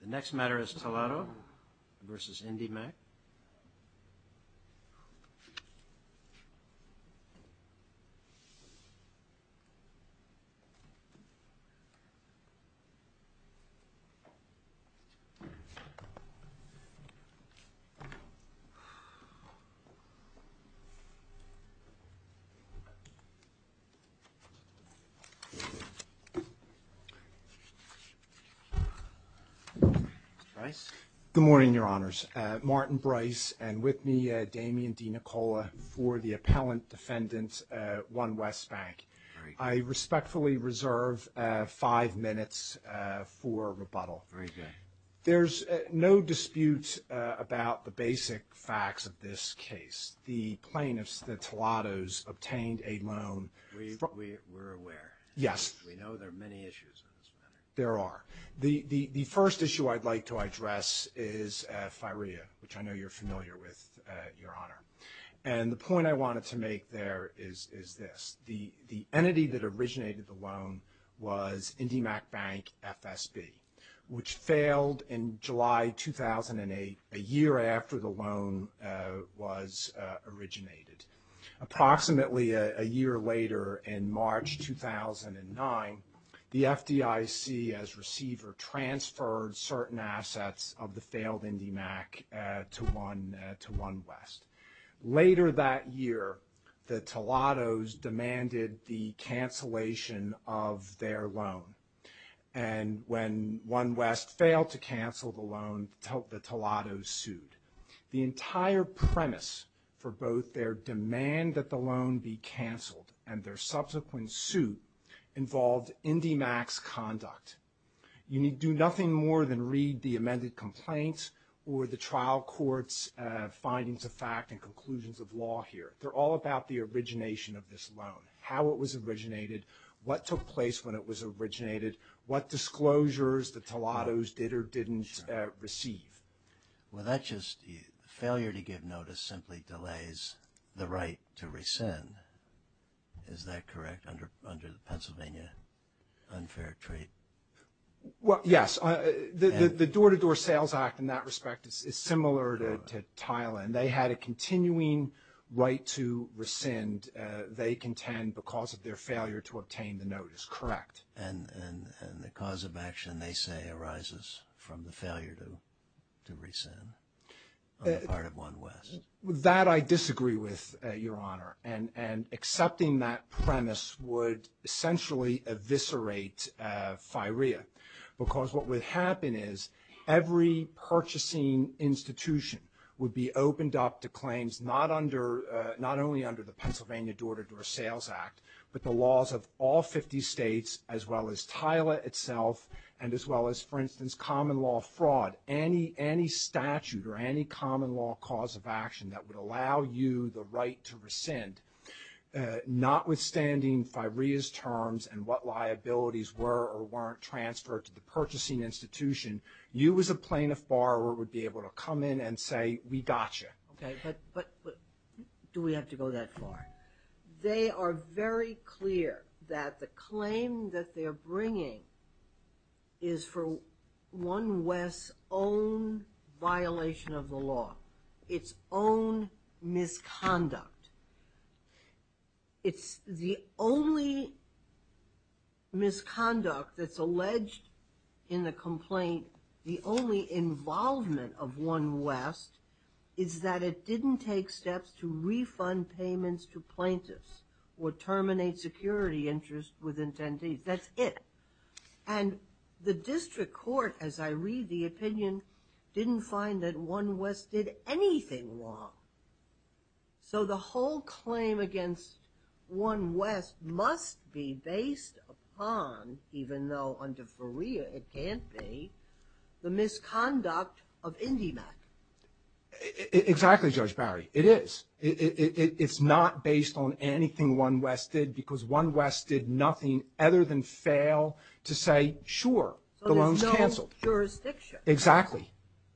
The next matter is Toledo v. Indymac. Good morning, Your Honors. Martin Brice and with me Damian DeNicola for the appellant defendant, One West Bank. I respectfully reserve five minutes for rebuttal. Very good. There's no dispute about the basic facts of this case. The plaintiffs, the Toledos, obtained a loan. We're aware. Yes. We know there are many issues in this matter. There are. The first issue I'd like to address is FIREA, which I know you're familiar with, Your Honor. And the point I wanted to make there is this. The entity that originated the loan was Indymac Bank FSB, which failed in July 2008, a year after the loan was originated. Approximately a year later, in March 2009, the FDIC, as receiver, transferred certain assets of the failed Indymac to One West. Later that year, the Toledos demanded the cancellation of their loan. And when One West failed to cancel the loan, the Toledos sued. The entire premise for both their demand that the loan be canceled and their subsequent suit involved Indymac's conduct. You do nothing more than read the amended complaints or the trial court's findings of fact and conclusions of law here. They're all about the origination of this loan, how it was originated, what took place when it was originated, what disclosures the Toledos did or didn't receive. Well, that's just – failure to give notice simply delays the right to rescind. Is that correct, under the Pennsylvania unfair treat? Well, yes. The Door-to-Door Sales Act, in that respect, is similar to Thailand. They had a continuing right to rescind, they contend, because of their failure to obtain the notice. Correct. And the cause of action, they say, arises from the failure to rescind on the part of One West. That I disagree with, Your Honor. And accepting that premise would essentially eviscerate firea. Because what would happen is every purchasing institution would be opened up to claims not only under the Pennsylvania Door-to-Door Sales Act, but the laws of all 50 states, as well as Thailand itself, and as well as, for instance, common law fraud. Any statute or any common law cause of action that would allow you the right to rescind, notwithstanding firea's terms and what liabilities were or weren't transferred to the purchasing institution, you as a plaintiff borrower would be able to come in and say, we got you. Okay. But do we have to go that far? They are very clear that the claim that they're bringing is for One West's own violation of the law, its own misconduct. It's the only misconduct that's alleged in the complaint, the only involvement of One West, is that it didn't take steps to refund payments to plaintiffs or terminate security interest with attendees. That's it. And the district court, as I read the opinion, didn't find that One West did anything wrong. So the whole claim against One West must be based upon, even though under firea it can't be, the misconduct of IndyMac. Exactly, Judge Barry. It is. It's not based on anything One West did, because One West did nothing other than fail to say, sure, the loan's canceled. So there's no jurisdiction. Exactly.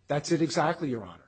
That's it exactly, Your Honor.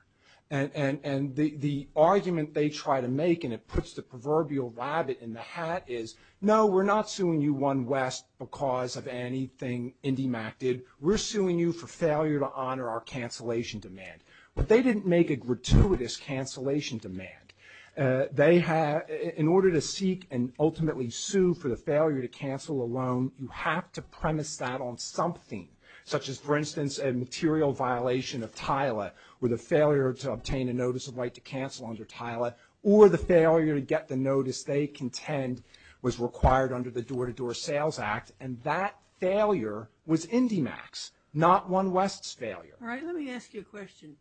And the argument they try to make, and it puts the proverbial rabbit in the hat, is, no, we're not suing you, One West, because of anything IndyMac did. We're suing you for failure to honor our cancellation demand. But they didn't make a gratuitous cancellation demand. In order to seek and ultimately sue for the failure to cancel a loan, you have to premise that on something, such as, for instance, a material violation of TILA, or the failure to obtain a notice of right to cancel under TILA, or the failure to get the notice they contend was required under the Door-to-Door Sales Act, and that failure was IndyMac's, not One West's, failure. All right, let me ask you a question.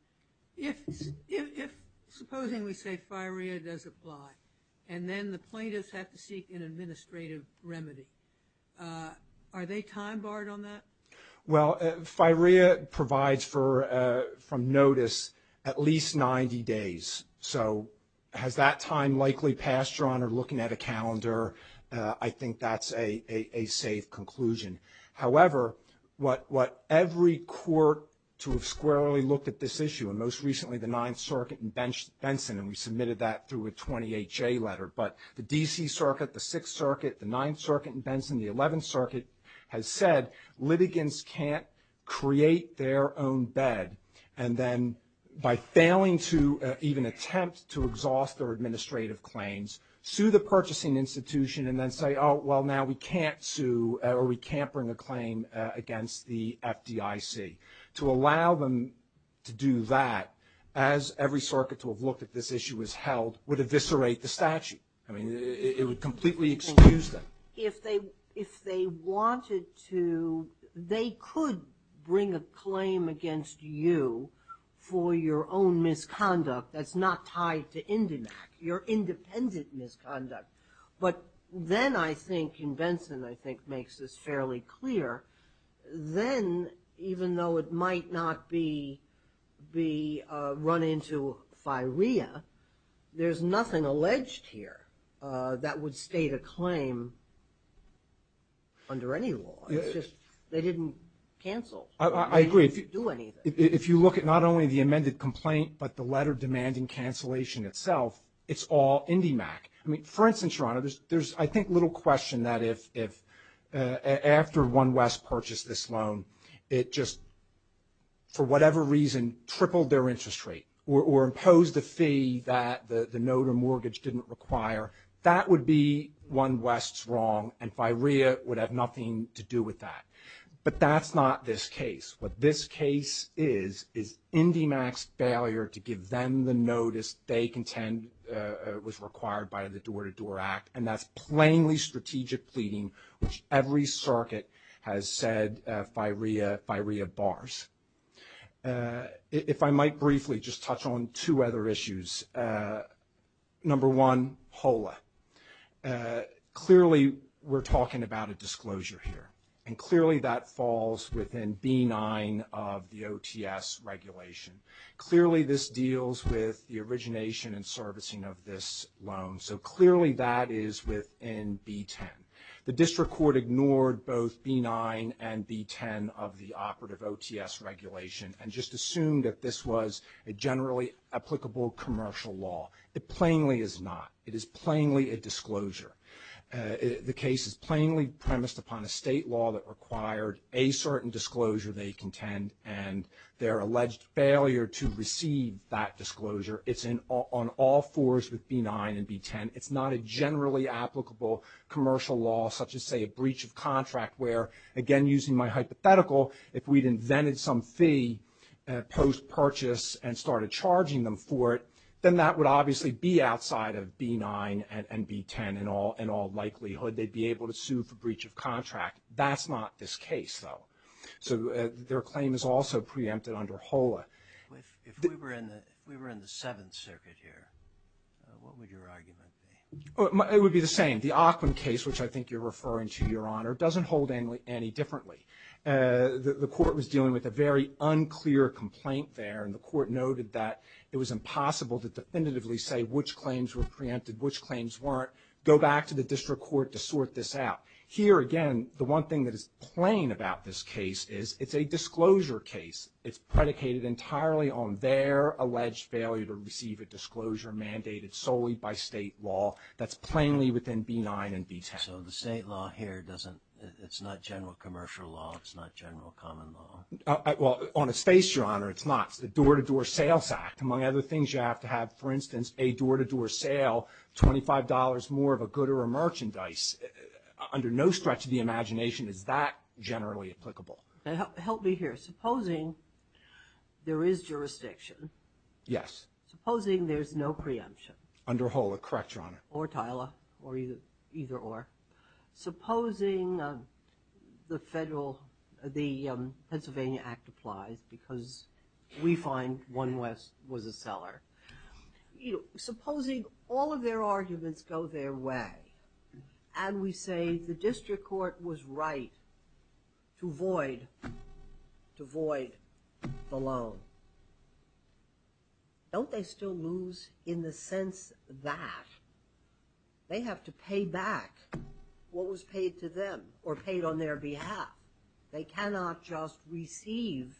If, supposing we say firea does apply, and then the plaintiffs have to seek an administrative remedy, are they time-barred on that? Well, firea provides for, from notice, at least 90 days. So has that time likely passed, Your Honor, looking at a calendar? I think that's a safe conclusion. However, what every court to have squarely looked at this issue, and most recently the Ninth Circuit and Benson, and we submitted that through a 28-J letter, but the D.C. Circuit, the Sixth Circuit, the Ninth Circuit and Benson, the Eleventh Circuit, has said litigants can't create their own bed, and then by failing to even attempt to exhaust their administrative claims, sue the purchasing institution, and then say, oh, well, now we can't sue, or we can't bring a claim against the FDIC. To allow them to do that, as every circuit to have looked at this issue has held, would eviscerate the statute. I mean, it would completely excuse them. If they wanted to, they could bring a claim against you for your own misconduct that's not tied to Indenac, your independent misconduct, but then I think, and Benson, I think, makes this fairly clear, then even though it might not be run into firea, there's nothing alleged here that would state a claim under any law. It's just they didn't cancel. I agree. They didn't do anything. If you look at not only the amended complaint, but the letter demanding cancellation itself, it's all Indenac. I mean, for instance, Your Honor, there's, I think, little question that if after One West purchased this loan, it just, for whatever reason, tripled their interest rate or imposed a fee that the notor mortgage didn't require, that would be One West's wrong, and firea would have nothing to do with that. But that's not this case. What this case is is Indenac's failure to give them the notice they contend was required by the Door-to-Door Act, and that's plainly strategic pleading, which every circuit has said firea bars. If I might briefly just touch on two other issues, number one, HOLA. Clearly, we're talking about a disclosure here, and clearly that falls within B9 of the OTS regulation. Clearly, this deals with the origination and servicing of this loan. So clearly that is within B10. The district court ignored both B9 and B10 of the operative OTS regulation and just assumed that this was a generally applicable commercial law. It plainly is not. It is plainly a disclosure. The case is plainly premised upon a state law that required a certain disclosure they contend, and their alleged failure to receive that disclosure. It's on all fours with B9 and B10. It's not a generally applicable commercial law such as, say, a breach of contract where, again, using my hypothetical, if we'd invented some fee post-purchase and started charging them for it, then that would obviously be outside of B9 and B10 in all likelihood. They'd be able to sue for breach of contract. That's not this case, though. So their claim is also preempted under HOLA. If we were in the Seventh Circuit here, what would your argument be? It would be the same. The Ockham case, which I think you're referring to, Your Honor, doesn't hold any differently. The court was dealing with a very unclear complaint there, and the court noted that it was impossible to definitively say which claims were preempted, which claims weren't, go back to the district court to sort this out. Here, again, the one thing that is plain about this case is it's a disclosure case. It's predicated entirely on their alleged failure to receive a disclosure mandated solely by state law. That's plainly within B9 and B10. So the state law here doesn't, it's not general commercial law, it's not general common law? Well, on a space, Your Honor, it's not. It's the Door-to-Door Sales Act. Among other things, you have to have, for instance, a door-to-door sale, $25 more of a good or a merchandise. Under no stretch of the imagination is that generally applicable. Help me here. Supposing there is jurisdiction. Yes. Supposing there's no preemption. Under Hull, correct, Your Honor. Or Tyler, or either or. Supposing all of their arguments go their way and we say the district court was right to void the loan. Don't they still lose in the sense that they have to pay back what was paid to them or paid on their behalf? They cannot just receive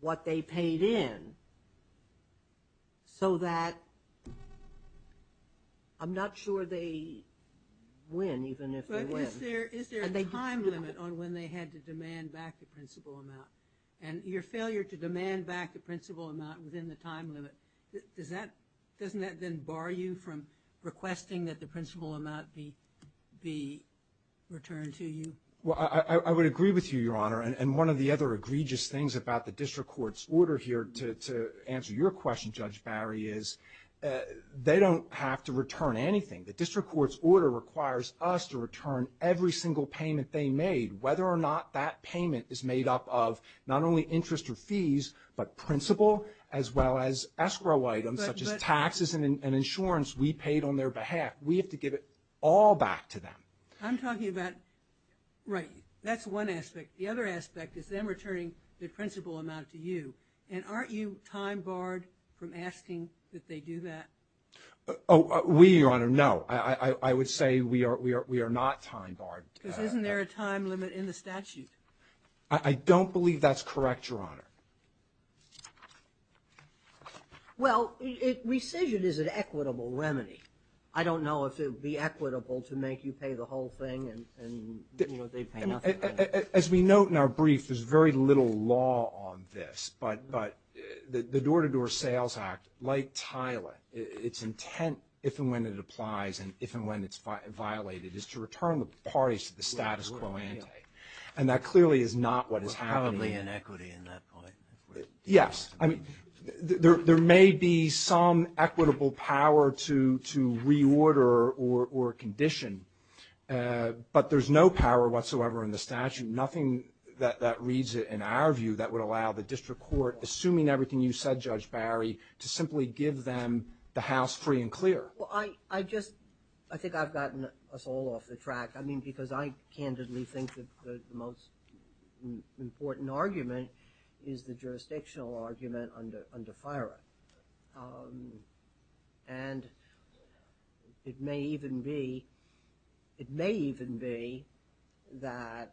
what they paid in so that I'm not sure they win, even if they win. But is there a time limit on when they had to demand back the principal amount? And your failure to demand back the principal amount within the time limit, doesn't that then bar you from requesting that the principal amount be returned to you? Well, I would agree with you, Your Honor. And one of the other egregious things about the district court's order here, to answer your question, Judge Barry, is they don't have to return anything. The district court's order requires us to return every single payment they made, whether or not that payment is made up of not only interest or fees, but principal as well as escrow items, such as taxes and insurance we paid on their behalf. We have to give it all back to them. I'm talking about, right, that's one aspect. The other aspect is them returning the principal amount to you. And aren't you time barred from asking that they do that? We, Your Honor, no. I would say we are not time barred. Because isn't there a time limit in the statute? I don't believe that's correct, Your Honor. Well, rescission is an equitable remedy. I don't know if it would be equitable to make you pay the whole thing and, you know, they pay nothing. As we note in our brief, there's very little law on this, but the Door-to-Door Sales Act, like TILA, its intent if and when it applies and if and when it's violated is to return the parties to the status quo ante. And that clearly is not what is happening. Probably inequity in that point. Yes. I mean, there may be some equitable power to reorder or condition, but there's no power whatsoever in the statute, nothing that reads it in our view that would allow the district court, assuming everything you said, Judge Barry, to simply give them the house free and clear. Well, I just, I think I've gotten us all off the track. I mean, because I candidly think that the most important argument is the jurisdictional argument under FIRA. And it may even be, it may even be that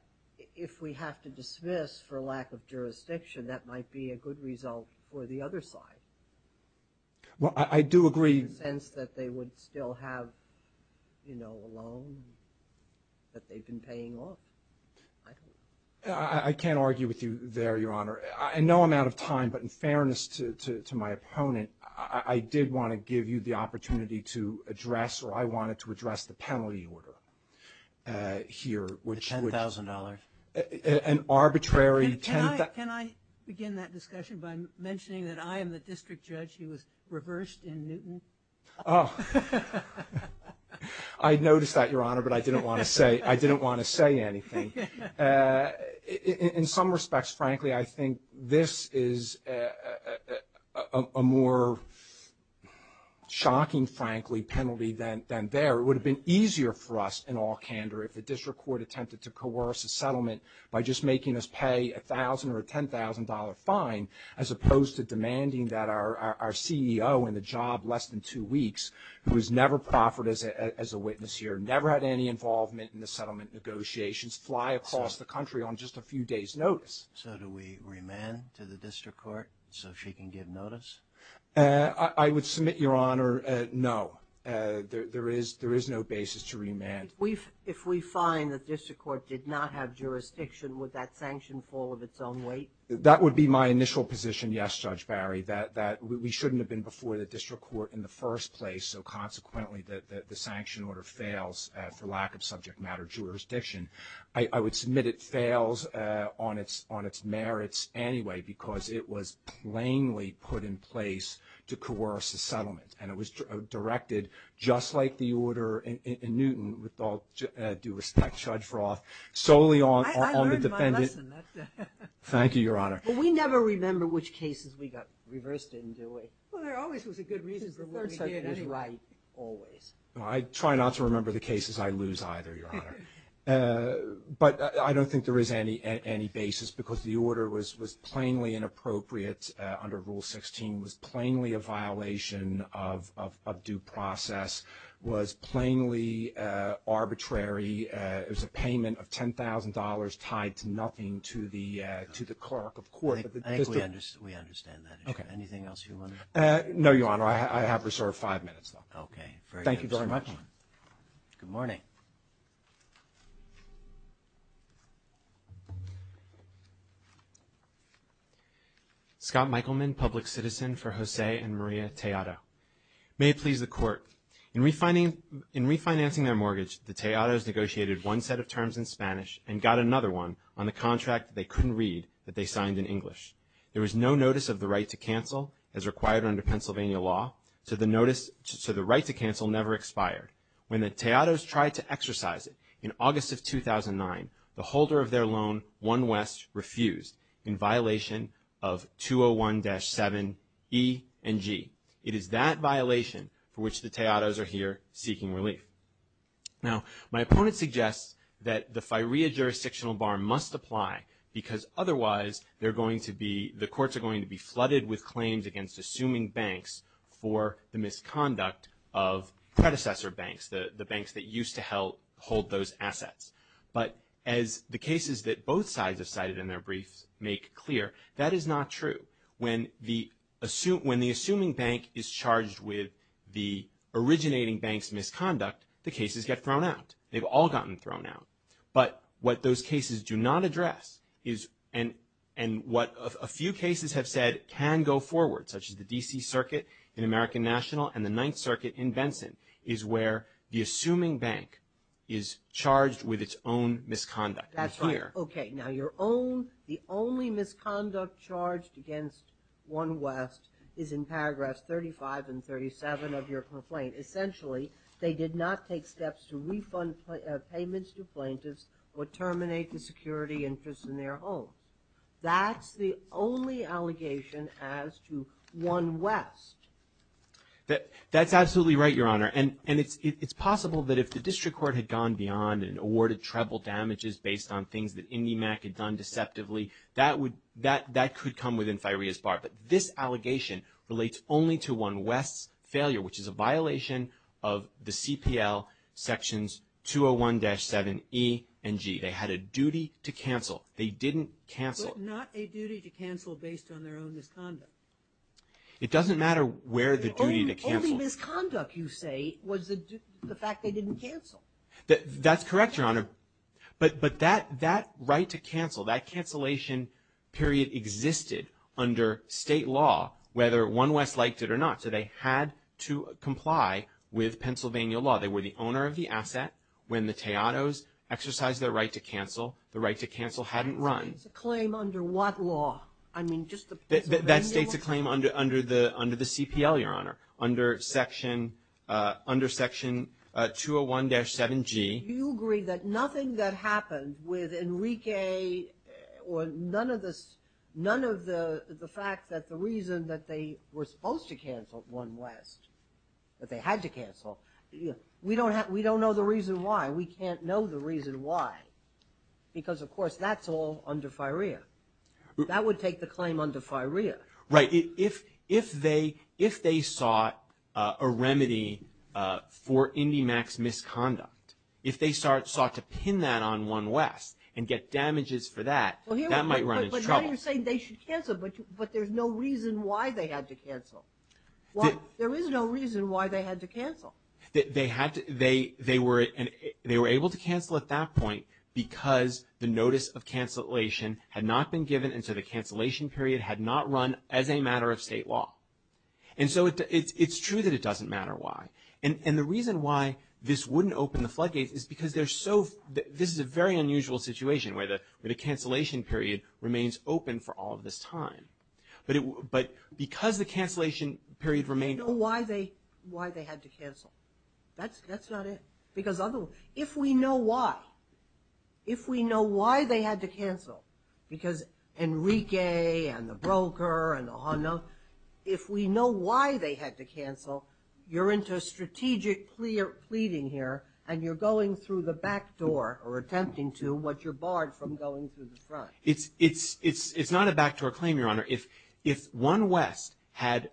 if we have to dismiss for lack of jurisdiction, that might be a good result for the other side. Well, I do agree. In the sense that they would still have, you know, a loan that they've been paying off. I can't argue with you there, Your Honor. In no amount of time, but in fairness to my opponent, I did want to give you the opportunity to address or I wanted to address the penalty order here. The $10,000. An arbitrary $10,000. Can I begin that discussion by mentioning that I am the district judge who was reversed in Newton? Oh. I noticed that, Your Honor, but I didn't want to say anything. In some respects, frankly, I think this is a more shocking, frankly, penalty than there. It would have been easier for us in all candor if the district court attempted to coerce a settlement by just making us pay a $1,000 or a $10,000 fine, as opposed to demanding that our CEO in the job less than two weeks, who has never proffered as a witness here, who never had any involvement in the settlement negotiations, fly across the country on just a few days' notice. So do we remand to the district court so she can give notice? I would submit, Your Honor, no. There is no basis to remand. If we find the district court did not have jurisdiction, would that sanction fall of its own weight? That would be my initial position, yes, Judge Barry, that we shouldn't have been before the district court in the first place, so consequently the sanction order fails for lack of subject matter jurisdiction. I would submit it fails on its merits anyway, because it was plainly put in place to coerce a settlement, and it was directed just like the order in Newton, with all due respect, Judge Froth, solely on the defendant. I learned my lesson. Thank you, Your Honor. We never remember which cases we got reversed in, do we? Well, there always was a good reason for what we did as right, always. I try not to remember the cases I lose either, Your Honor. But I don't think there is any basis, because the order was plainly inappropriate under Rule 16, was plainly a violation of due process, was plainly arbitrary. It was a payment of $10,000 tied to nothing to the clerk of court. I think we understand that. Anything else you want to add? No, Your Honor. I have reserved five minutes, though. Okay. Thank you very much. Good morning. Scott Michaelman, public citizen for Jose and Maria Tejado. May it please the Court. In refinancing their mortgage, the Tejados negotiated one set of terms in Spanish and got another one on the contract they couldn't read that they signed in English. There was no notice of the right to cancel as required under Pennsylvania law, so the right to cancel never expired. When the Tejados tried to exercise it in August of 2009, the holder of their loan, One West, refused in violation of 201-7 E and G. It is that violation for which the Tejados are here seeking relief. Now, my opponent suggests that the FIREA jurisdictional bar must apply, because otherwise the courts are going to be flooded with claims against assuming banks for the misconduct of predecessor banks, the banks that used to hold those assets. But as the cases that both sides have cited in their briefs make clear, that is not true. When the assuming bank is charged with the originating bank's misconduct, the cases get thrown out. They've all gotten thrown out. But what those cases do not address is, and what a few cases have said can go forward, such as the D.C. Circuit in American National and the Ninth Circuit in Benson, is where the assuming bank is charged with its own misconduct. That's right. Okay, now your own, the only misconduct charged against One West is in paragraphs 35 and 37 of your complaint. Essentially, they did not take steps to refund payments to plaintiffs or terminate the security interest in their home. That's the only allegation as to One West. That's absolutely right, Your Honor. And it's possible that if the district court had gone beyond and awarded treble damages based on things that IndyMac had done deceptively, that could come within FIREA's bar. But this allegation relates only to One West's failure, which is a violation of the CPL Sections 201-7E and G. They had a duty to cancel. They didn't cancel. But not a duty to cancel based on their own misconduct. It doesn't matter where the duty to cancel. The only misconduct, you say, was the fact they didn't cancel. That's correct, Your Honor. But that right to cancel, that cancellation period existed under state law, whether One West liked it or not. So they had to comply with Pennsylvania law. They were the owner of the asset. When the Teodos exercised their right to cancel, the right to cancel hadn't run. That state's a claim under what law? I mean, just the Pennsylvania law? That state's a claim under the CPL, Your Honor, under Section 201-7G. You agree that nothing that happened with Enrique or none of the fact that the reason that they were supposed to cancel One West, that they had to cancel, we don't know the reason why. We can't know the reason why because, of course, that's all under FIREA. That would take the claim under FIREA. Right. If they sought a remedy for IndyMax misconduct, if they sought to pin that on One West and get damages for that, that might run into trouble. But now you're saying they should cancel, but there's no reason why they had to cancel. There is no reason why they had to cancel. They were able to cancel at that point because the notice of cancellation had not been given and so the cancellation period had not run as a matter of state law. And so it's true that it doesn't matter why. And the reason why this wouldn't open the floodgates is because this is a very unusual situation where the cancellation period remains open for all of this time. But because the cancellation period remained open We don't know why they had to cancel. That's not it. Because if we know why, if we know why they had to cancel, because Enrique and the broker and the Hondo, if we know why they had to cancel, you're into strategic pleading here and you're going through the back door or attempting to, but you're barred from going through the front. It's not a backdoor claim, Your Honor. If One West had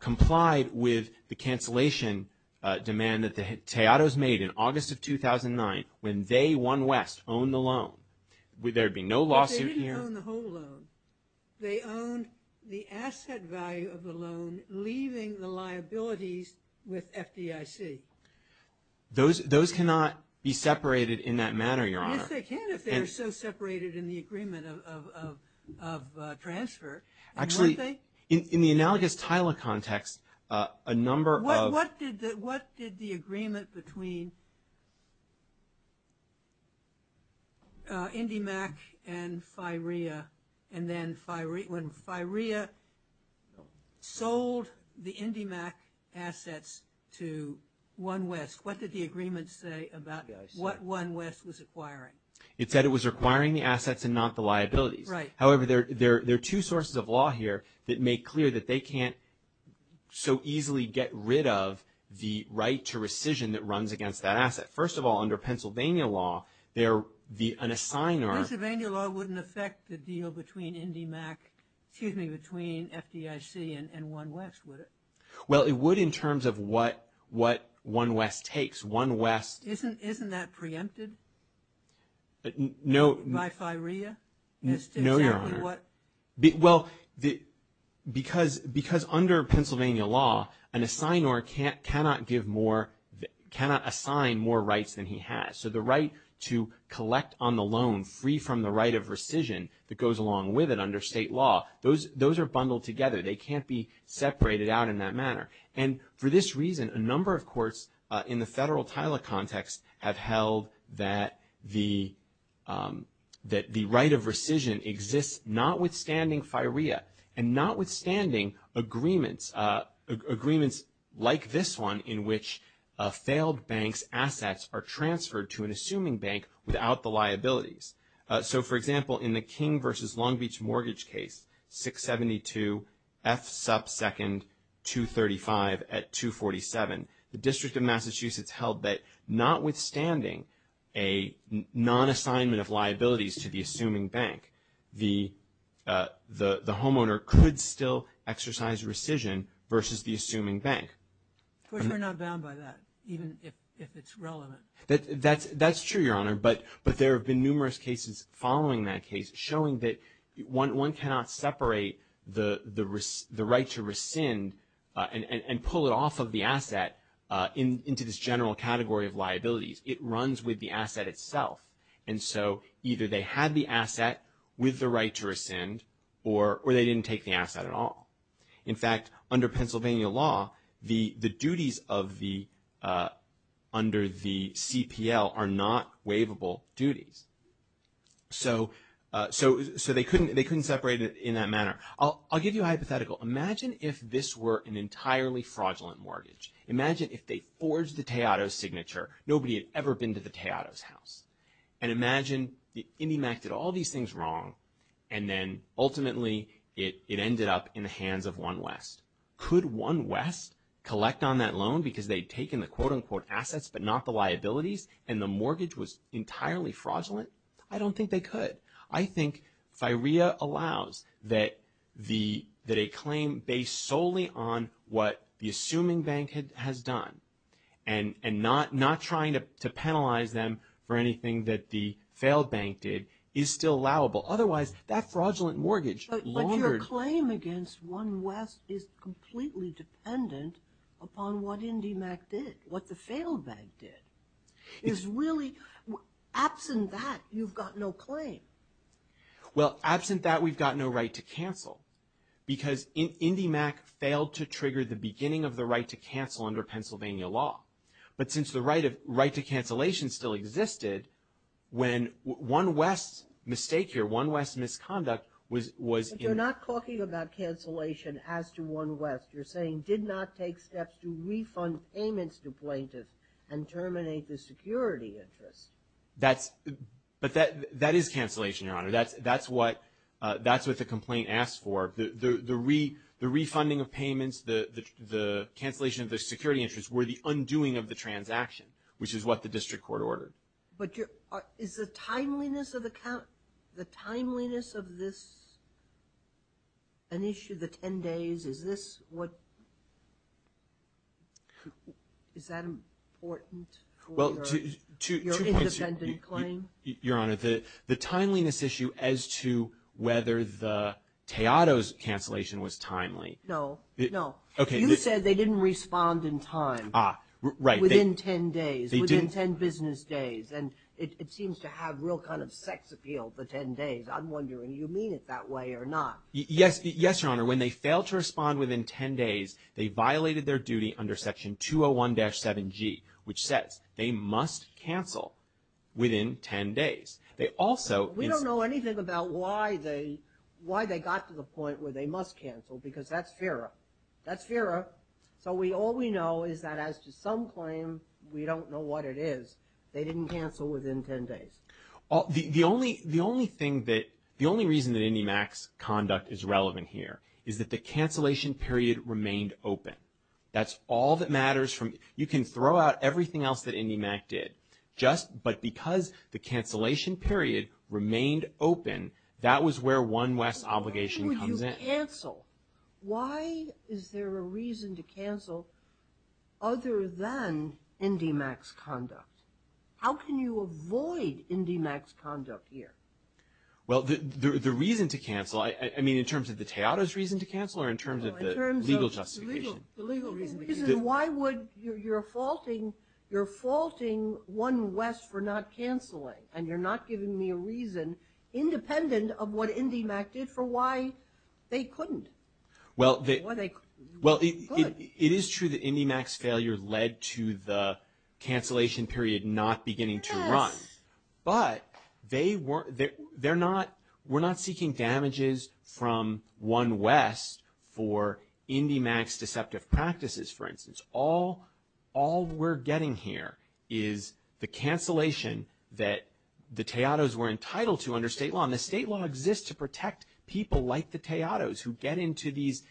complied with the cancellation demand that the Tejados made in August of 2009, when they, One West, owned the loan, would there be no lawsuit here? But they didn't own the whole loan. They owned the asset value of the loan, leaving the liabilities with FDIC. Those cannot be separated in that manner, Your Honor. Yes, they can if they are so separated in the agreement of transfer. Actually, in the analogous Tyler context, a number of What did the agreement between IndyMac and Firea, and then when Firea sold the IndyMac assets to One West, what did the agreement say about what One West was acquiring? It said it was requiring the assets and not the liabilities. Right. However, there are two sources of law here that make clear that they can't so easily get rid of the right to rescission that runs against that asset. First of all, under Pennsylvania law, the unassigner Pennsylvania law wouldn't affect the deal between IndyMac, excuse me, between FDIC and One West, would it? Well, it would in terms of what One West takes. Isn't that preempted by Firea? No, Your Honor. Well, because under Pennsylvania law, an assignor cannot assign more rights than he has. So the right to collect on the loan free from the right of rescission that goes along with it under state law, those are bundled together. They can't be separated out in that manner. And for this reason, a number of courts in the federal TILA context have held that the right of rescission exists notwithstanding Firea and notwithstanding agreements like this one in which failed banks' assets are transferred to an assuming bank without the liabilities. So, for example, in the King v. Long Beach mortgage case 672 F sub second 235 at 247, the District of Massachusetts held that notwithstanding a nonassignment of liabilities to the assuming bank, the homeowner could still exercise rescission versus the assuming bank. Which we're not bound by that, even if it's relevant. That's true, Your Honor. But there have been numerous cases following that case showing that one cannot separate the right to rescind and pull it off of the asset into this general category of liabilities. It runs with the asset itself. And so either they had the asset with the right to rescind or they didn't take the asset at all. In fact, under Pennsylvania law, the duties under the CPL are not waivable duties. So they couldn't separate it in that manner. I'll give you a hypothetical. Imagine if this were an entirely fraudulent mortgage. Imagine if they forged the Tejado's signature. And imagine the IndyMac did all these things wrong and then ultimately it ended up in the hands of One West. Could One West collect on that loan because they'd taken the quote-unquote assets but not the liabilities and the mortgage was entirely fraudulent? I don't think they could. I think FIREA allows that a claim based solely on what the assuming bank has done and not trying to penalize them for anything that the failed bank did is still allowable. Otherwise, that fraudulent mortgage laundered. But your claim against One West is completely dependent upon what IndyMac did, what the failed bank did. It's really absent that, you've got no claim. Well, absent that, we've got no right to cancel because IndyMac failed to trigger the beginning of the right to cancel under Pennsylvania law. But since the right to cancellation still existed, when One West's mistake here, One West's misconduct was- But you're not talking about cancellation as to One West. You're saying did not take steps to refund payments to plaintiffs and terminate the security interest. But that is cancellation, Your Honor. That's what the complaint asked for. The refunding of payments, the cancellation of the security interest were the undoing of the transaction, which is what the district court ordered. But is the timeliness of this an issue, the 10 days, is that important for your independent claim? Your Honor, the timeliness issue as to whether the Teodos cancellation was timely- No, no. Okay. You said they didn't respond in time. Ah, right. Within 10 days, within 10 business days. And it seems to have real kind of sex appeal, the 10 days. I'm wondering, you mean it that way or not? Yes, Your Honor. When they failed to respond within 10 days, they violated their duty under Section 201-7G, which says they must cancel within 10 days. They also- We don't know anything about why they got to the point where they must cancel because that's FIRA. That's FIRA. So all we know is that as to some claims, we don't know what it is. They didn't cancel within 10 days. The only reason that IndyMac's conduct is relevant here is that the cancellation period remained open. That's all that matters. You can throw out everything else that IndyMac did, but because the cancellation period remained open, that was where One West's obligation comes in. Why would you cancel? Why is there a reason to cancel other than IndyMac's conduct? How can you avoid IndyMac's conduct here? Well, the reason to cancel, I mean, in terms of the Teodos reason to cancel or in terms of the legal justification? No, in terms of the legal reason. The reason why would you're faulting One West for not canceling, and you're not giving me a reason independent of what IndyMac did for why they couldn't. Well, it is true that IndyMac's failure led to the cancellation period not beginning to run, but we're not seeking damages from One West for IndyMac's deceptive practices, for instance. All we're getting here is the cancellation that the Teodos were entitled to under state law, and the state law exists to protect people like the Teodos who get into these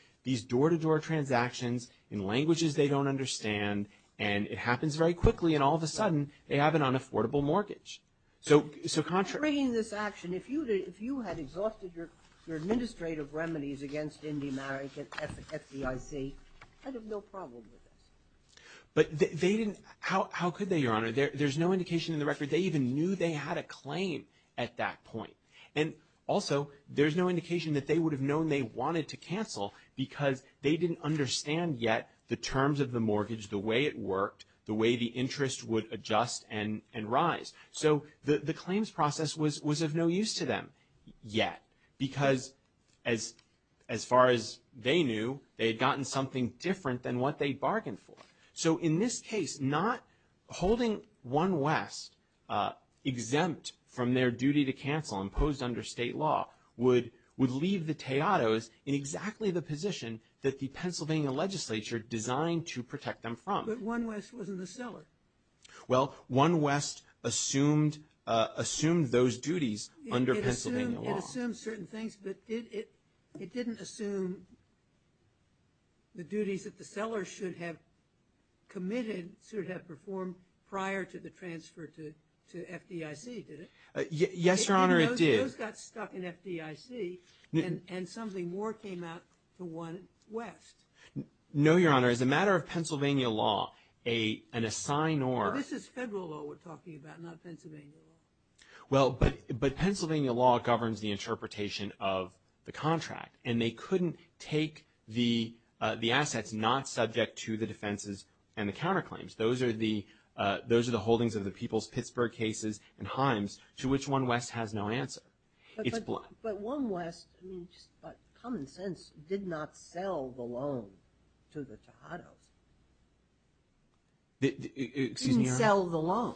door-to-door transactions in languages they don't understand, and it happens very quickly, and all of a sudden, they have an unaffordable mortgage. So contrary to this action, if you had exhausted your administrative remedies against IndyMac and FDIC, I'd have no problem with this. But they didn't. How could they, Your Honor? There's no indication in the record. They even knew they had a claim at that point, because they didn't understand yet the terms of the mortgage, the way it worked, the way the interest would adjust and rise. So the claims process was of no use to them yet, because as far as they knew, they had gotten something different than what they bargained for. So in this case, not holding One West exempt from their duty to cancel imposed under state law would leave the Teodos in exactly the position that the Pennsylvania legislature designed to protect them from. But One West wasn't the seller. Well, One West assumed those duties under Pennsylvania law. It assumed certain things, but it didn't assume the duties that the seller should have committed, should have performed prior to the transfer to FDIC, did it? Yes, Your Honor, it did. Those got stuck in FDIC, and something more came out to One West. No, Your Honor. As a matter of Pennsylvania law, an assign or – Well, this is federal law we're talking about, not Pennsylvania law. Well, but Pennsylvania law governs the interpretation of the contract, and they couldn't take the assets not subject to the defenses and the counterclaims. Those are the holdings of the People's Pittsburgh cases and Himes, to which One West has no answer. It's bluff. But One West, just by common sense, did not sell the loan to the Teodos. Excuse me, Your Honor. Didn't sell the loan.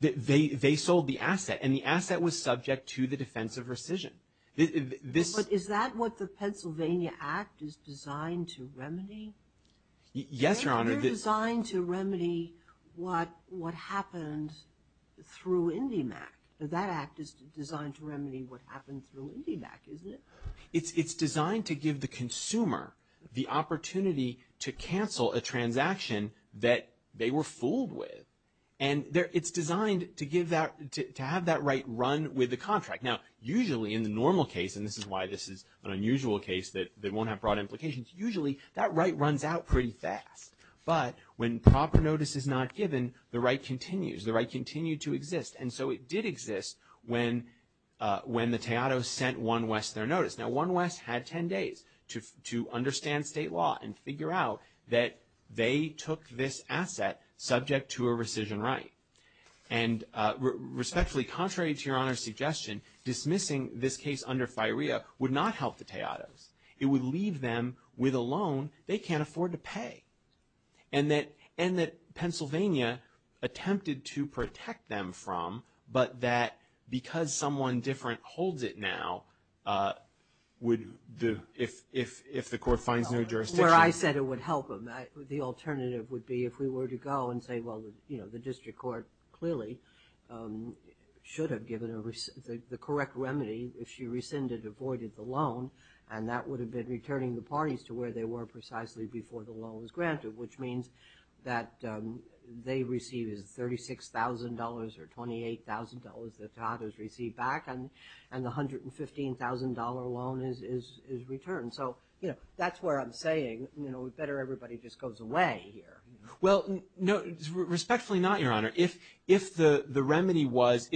They sold the asset, and the asset was subject to the defense of rescission. But is that what the Pennsylvania Act is designed to remedy? Yes, Your Honor. They're designed to remedy what happened through IndyMac. That act is designed to remedy what happened through IndyMac, isn't it? It's designed to give the consumer the opportunity to cancel a transaction that they were fooled with. And it's designed to have that right run with the contract. Now, usually in the normal case, and this is why this is an unusual case that won't have broad implications, usually that right runs out pretty fast. But when proper notice is not given, the right continues. The right continued to exist. And so it did exist when the Teodos sent One West their notice. Now, One West had 10 days to understand state law and figure out that they took this asset subject to a rescission right. And respectfully, contrary to Your Honor's suggestion, dismissing this case under FIREA would not help the Teodos. It would leave them with a loan they can't afford to pay and that Pennsylvania attempted to protect them from, but that because someone different holds it now would, if the court finds no jurisdiction. Well, I said it would help them. The alternative would be if we were to go and say, well, you know, the district court clearly should have given the correct remedy if she rescinded or voided the loan. And that would have been returning the parties to where they were precisely before the loan was granted, which means that they received $36,000 or $28,000 that Teodos received back and the $115,000 loan is returned. So, you know, that's where I'm saying, you know, better everybody just goes away here. Well, respectfully not, Your Honor. If the remedy was,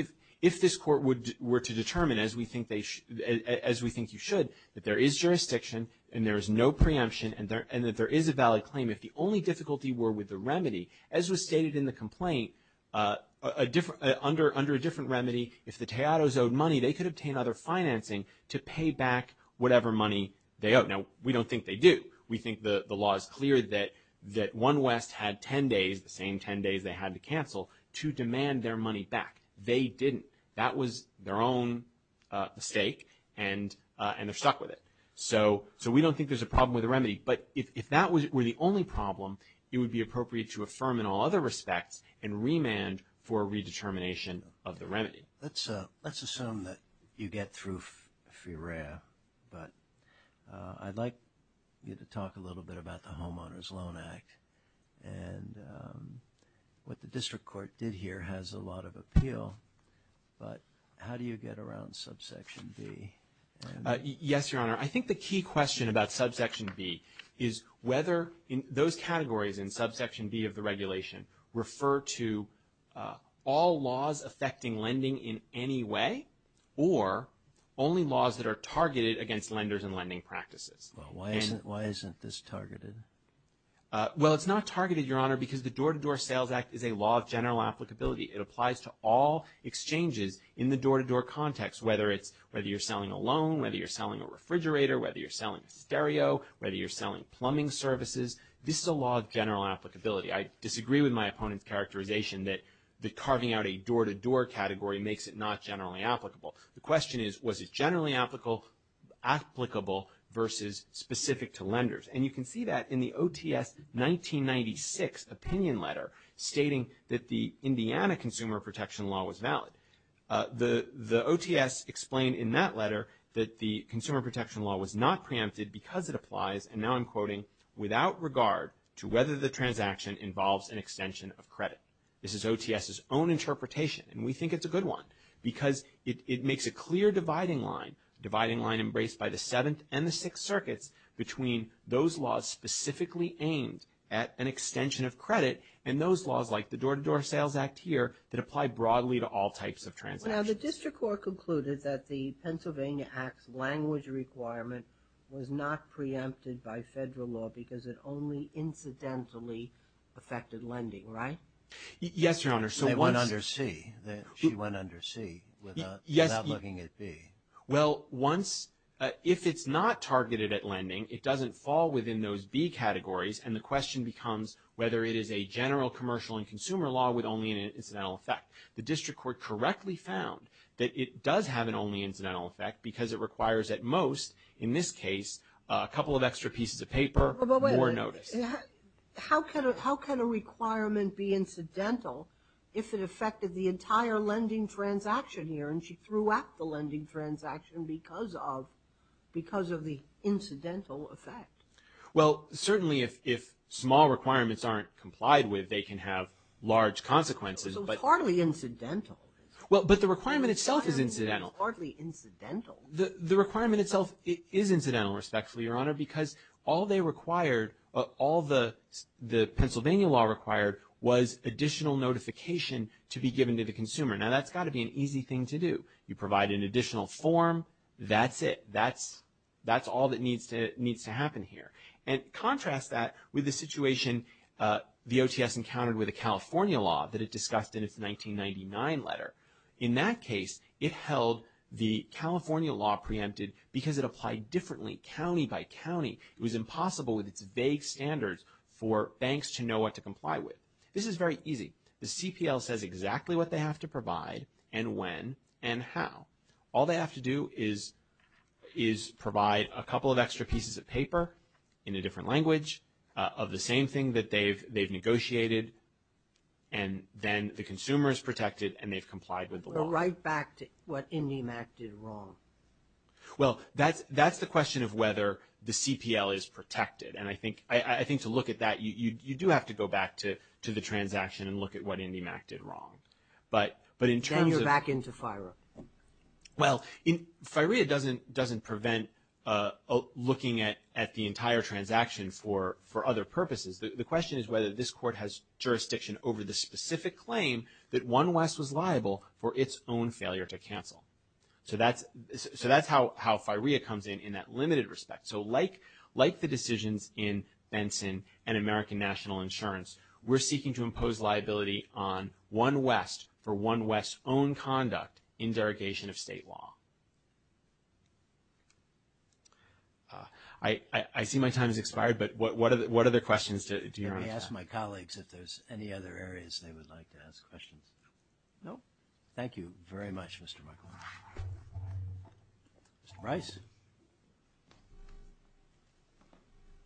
if this court were to determine, as we think they should, as we think you should, that there is jurisdiction and there is no preemption and that there is a valid claim, if the only difficulty were with the remedy, as was stated in the complaint, under a different remedy, if the Teodos owed money, they could obtain other financing to pay back whatever money they owed. Now, we don't think they do. We think the law is clear that One West had 10 days, the same 10 days they had to cancel, to demand their money back. They didn't. That was their own mistake and they're stuck with it. So we don't think there's a problem with the remedy. But if that were the only problem, it would be appropriate to affirm in all other respects Let's assume that you get through FREA. But I'd like you to talk a little bit about the Homeowners Loan Act. And what the district court did here has a lot of appeal. But how do you get around subsection B? Yes, Your Honor. I think the key question about subsection B is whether those categories in subsection B of the regulation refer to all laws affecting lending in any way or only laws that are targeted against lenders and lending practices. Why isn't this targeted? Well, it's not targeted, Your Honor, because the Door-to-Door Sales Act is a law of general applicability. It applies to all exchanges in the door-to-door context, whether you're selling a loan, whether you're selling a refrigerator, whether you're selling a stereo, whether you're selling plumbing services. This is a law of general applicability. I disagree with my opponent's characterization that carving out a door-to-door category makes it not generally applicable. The question is, was it generally applicable versus specific to lenders? And you can see that in the OTS 1996 opinion letter stating that the Indiana Consumer Protection Law was valid. The OTS explained in that letter that the Consumer Protection Law was not preempted because it applies, and now I'm quoting, without regard to whether the transaction involves an extension of credit. This is OTS's own interpretation, and we think it's a good one because it makes a clear dividing line, a dividing line embraced by the Seventh and the Sixth Circuits between those laws specifically aimed at an extension of credit and those laws like the Door-to-Door Sales Act here that apply broadly to all types of transactions. Now, the district court concluded that the Pennsylvania Act's language requirement was not preempted by federal law because it only incidentally affected lending, right? Yes, Your Honor. It went under C. She went under C without looking at B. Well, if it's not targeted at lending, it doesn't fall within those B categories, and the question becomes whether it is a general commercial and consumer law with only an incidental effect. The district court correctly found that it does have an only incidental effect because it requires at most, in this case, a couple of extra pieces of paper, more notice. How can a requirement be incidental if it affected the entire lending transaction here, and she threw out the lending transaction because of the incidental effect? Well, certainly if small requirements aren't complied with, they can have large consequences. So it's hardly incidental. Well, but the requirement itself is incidental. Hardly incidental. The requirement itself is incidental, respectfully, Your Honor, because all the Pennsylvania law required was additional notification to be given to the consumer. Now, that's got to be an easy thing to do. You provide an additional form. That's it. That's all that needs to happen here, and contrast that with the situation the OTS encountered with the California law that it discussed in its 1999 letter. In that case, it held the California law preempted because it applied differently county by county. It was impossible with its vague standards for banks to know what to comply with. This is very easy. The CPL says exactly what they have to provide and when and how. All they have to do is provide a couple of extra pieces of paper in a different language of the same thing that they've negotiated, and then the consumer is protected and they've complied with the law. Well, right back to what IndyMac did wrong. Well, that's the question of whether the CPL is protected, and I think to look at that, you do have to go back to the transaction and look at what IndyMac did wrong. Then you're back into FIRA. Well, FIRA doesn't prevent looking at the entire transaction for other purposes. The question is whether this court has jurisdiction over the specific claim that One West was liable for its own failure to cancel. So that's how FIRA comes in in that limited respect. So like the decisions in Benson and American National Insurance, we're seeking to impose liability on One West for One West's own conduct in derogation of state law. I see my time has expired, but what other questions do you have? Let me ask my colleagues if there's any other areas they would like to ask questions. No? Thank you very much, Mr. Michael. Mr. Rice?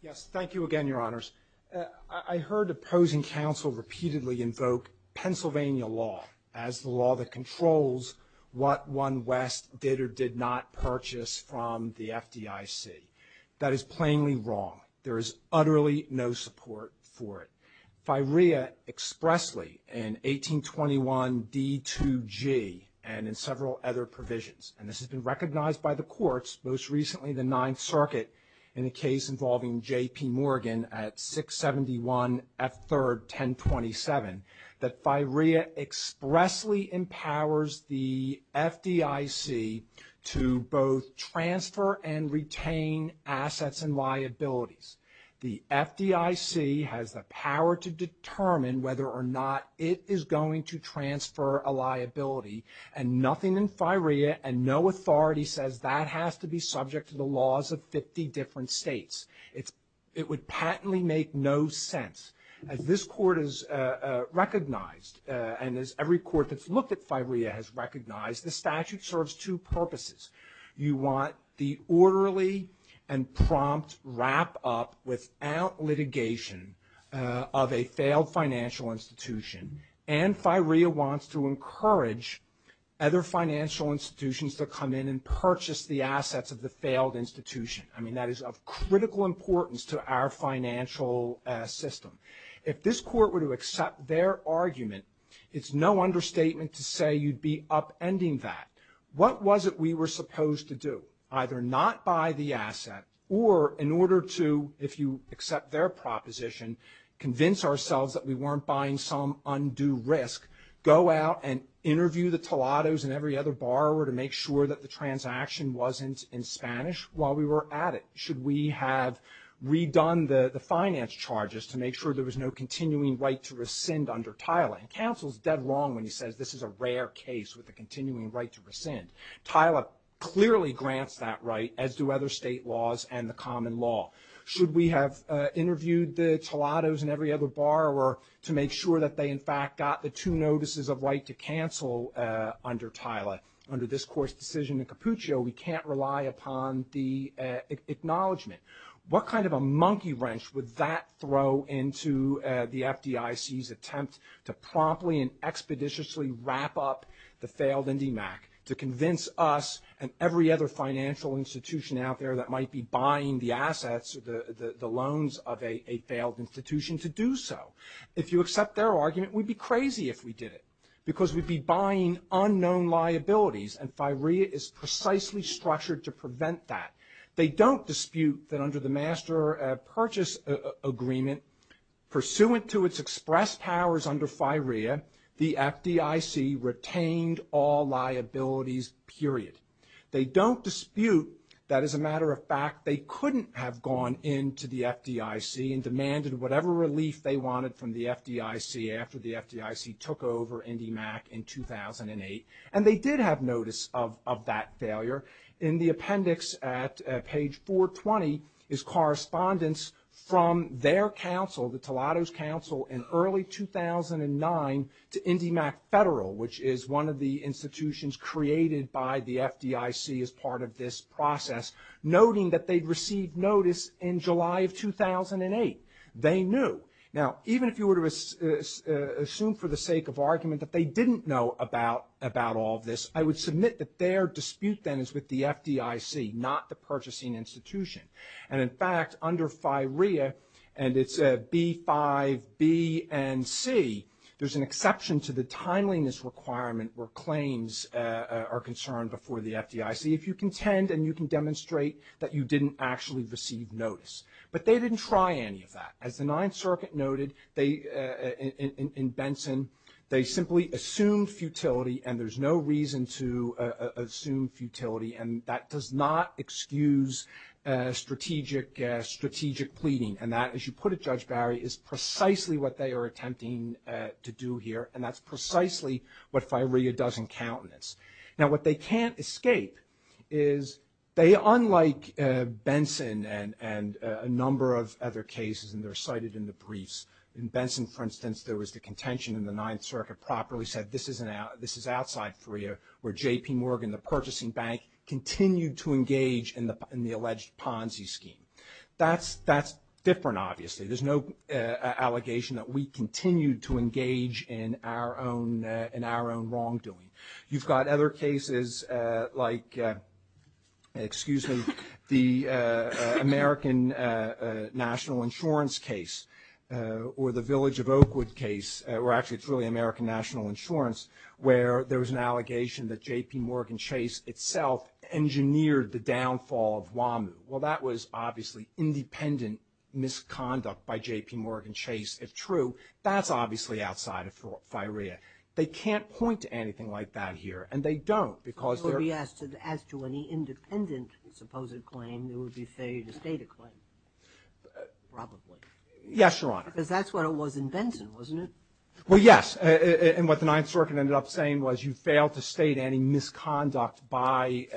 Yes, thank you again, Your Honors. I heard opposing counsel repeatedly invoke Pennsylvania law as the law that controls what One West did or did not purchase from the FDIC. That is plainly wrong. There is utterly no support for it. FIRA expressly in 1821 D2G and in several other provisions, and this has been recognized by the courts, most recently the Ninth Circuit in a case involving J.P. Morgan at 671 F3rd 1027, that FIRA expressly empowers the FDIC to both transfer and retain assets and liabilities. The FDIC has the power to determine whether or not it is going to transfer a liability, and nothing in FIRA and no authority says that has to be subject to the laws of 50 different states. It would patently make no sense. As this court has recognized, and as every court that's looked at FIRA has recognized, the statute serves two purposes. You want the orderly and prompt wrap-up without litigation of a failed financial institution, and FIRA wants to encourage other financial institutions to come in and purchase the assets of the failed institution. I mean, that is of critical importance to our financial system. If this court were to accept their argument, it's no understatement to say you'd be upending that. What was it we were supposed to do? Either not buy the asset, or in order to, if you accept their proposition, convince ourselves that we weren't buying some undue risk, go out and interview the tolados and every other borrower to make sure that the transaction wasn't in Spanish while we were at it. Should we have redone the finance charges to make sure there was no continuing right to rescind under TILA? And counsel's dead wrong when he says this is a rare case with a continuing right to rescind. TILA clearly grants that right, as do other state laws and the common law. Should we have interviewed the tolados and every other borrower to make sure that they, in fact, got the two notices of right to cancel under TILA? Under this court's decision in Capuccio, we can't rely upon the acknowledgment. What kind of a monkey wrench would that throw into the FDIC's attempt to promptly and expeditiously wrap up the failed IndyMac to convince us and every other financial institution out there that might be buying the assets or the loans of a failed institution to do so? If you accept their argument, we'd be crazy if we did it because we'd be buying unknown liabilities, and FIREA is precisely structured to prevent that. They don't dispute that under the Master Purchase Agreement, pursuant to its express powers under FIREA, the FDIC retained all liabilities, period. They don't dispute that, as a matter of fact, they couldn't have gone into the FDIC and demanded whatever relief they wanted from the FDIC after the FDIC took over IndyMac in 2008, and they did have notice of that failure. In the appendix at page 420 is correspondence from their counsel, the Tolado's counsel in early 2009 to IndyMac Federal, which is one of the institutions created by the FDIC as part of this process, noting that they'd received notice in July of 2008. They knew. Now, even if you were to assume for the sake of argument that they didn't know about all of this, I would submit that their dispute then is with the FDIC, not the purchasing institution. And, in fact, under FIREA, and it's B-5-B-N-C, there's an exception to the timeliness requirement where claims are concerned before the FDIC if you contend and you can demonstrate that you didn't actually receive notice. But they didn't try any of that. As the Ninth Circuit noted, in Benson, they simply assumed futility, and there's no reason to assume futility, and that does not excuse strategic pleading. And that, as you put it, Judge Barry, is precisely what they are attempting to do here, and that's precisely what FIREA does in countenance. Now, what they can't escape is they, unlike Benson and a number of other cases, and they're cited in the briefs, in Benson, for instance, there was the contention in the Ninth Circuit properly said this is outside FIREA, where J.P. Morgan, the purchasing bank, continued to engage in the alleged Ponzi scheme. That's different, obviously. There's no allegation that we continued to engage in our own wrongdoing. You've got other cases like, excuse me, the American National Insurance case or the Village of Oakwood case, where actually it's really American National Insurance, where there was an allegation that J.P. Morgan Chase itself engineered the downfall of WAMU. Well, that was obviously independent misconduct by J.P. Morgan Chase. If true, that's obviously outside of FIREA. They can't point to anything like that here, and they don't because they're— As to any independent supposed claim, there would be failure to state a claim, probably. Yes, Your Honor. Because that's what it was in Benson, wasn't it? Well, yes. And what the Ninth Circuit ended up saying was you failed to state any misconduct by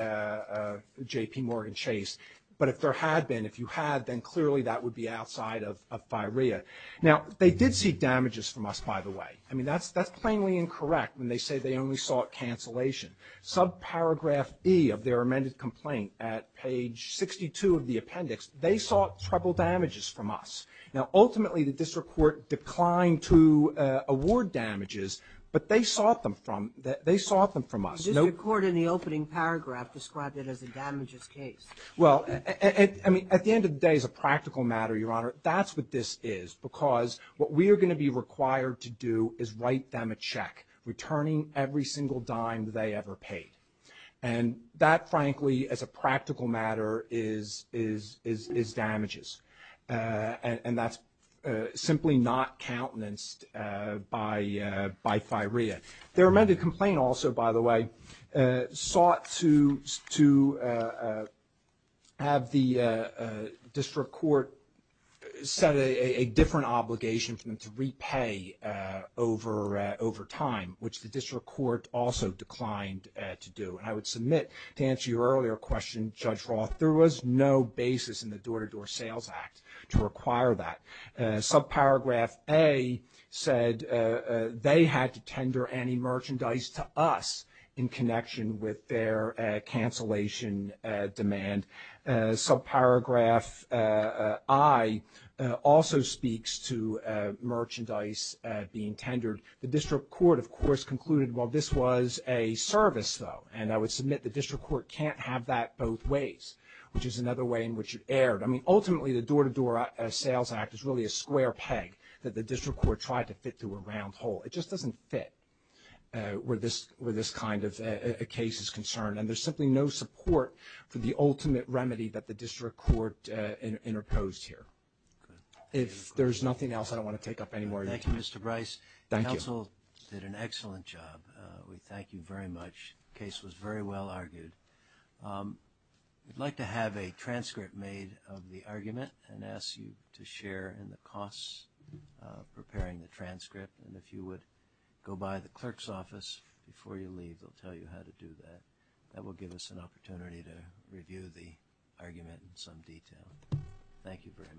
J.P. Morgan Chase. But if there had been, if you had, then clearly that would be outside of FIREA. Now, they did seek damages from us, by the way. I mean, that's plainly incorrect when they say they only sought cancellation. Subparagraph E of their amended complaint at page 62 of the appendix, they sought treble damages from us. Now, ultimately, the district court declined to award damages, but they sought them from us. The district court in the opening paragraph described it as a damages case. Well, I mean, at the end of the day, it's a practical matter, Your Honor. That's what this is because what we are going to be required to do is write them a check, returning every single dime they ever paid. And that, frankly, as a practical matter, is damages. And that's simply not countenanced by FIREA. Their amended complaint also, by the way, sought to have the district court set a different obligation for them to repay over time, which the district court also declined to do. And I would submit to answer your earlier question, Judge Roth, there was no basis in the Door-to-Door Sales Act to require that. Subparagraph A said they had to tender any merchandise to us in connection with their cancellation demand. Subparagraph I also speaks to merchandise being tendered. The district court, of course, concluded, well, this was a service, though, and I would submit the district court can't have that both ways, which is another way in which it erred. I mean, ultimately, the Door-to-Door Sales Act is really a square peg that the district court tried to fit through a round hole. It just doesn't fit where this kind of case is concerned. And there's simply no support for the ultimate remedy that the district court interposed here. If there's nothing else, I don't want to take up any more of your time. Thank you, Mr. Bryce. Counsel did an excellent job. We thank you very much. The case was very well argued. We'd like to have a transcript made of the argument and ask you to share in the costs of preparing the transcript. And if you would go by the clerk's office before you leave, they'll tell you how to do that. That will give us an opportunity to review the argument in some detail. Thank you very much.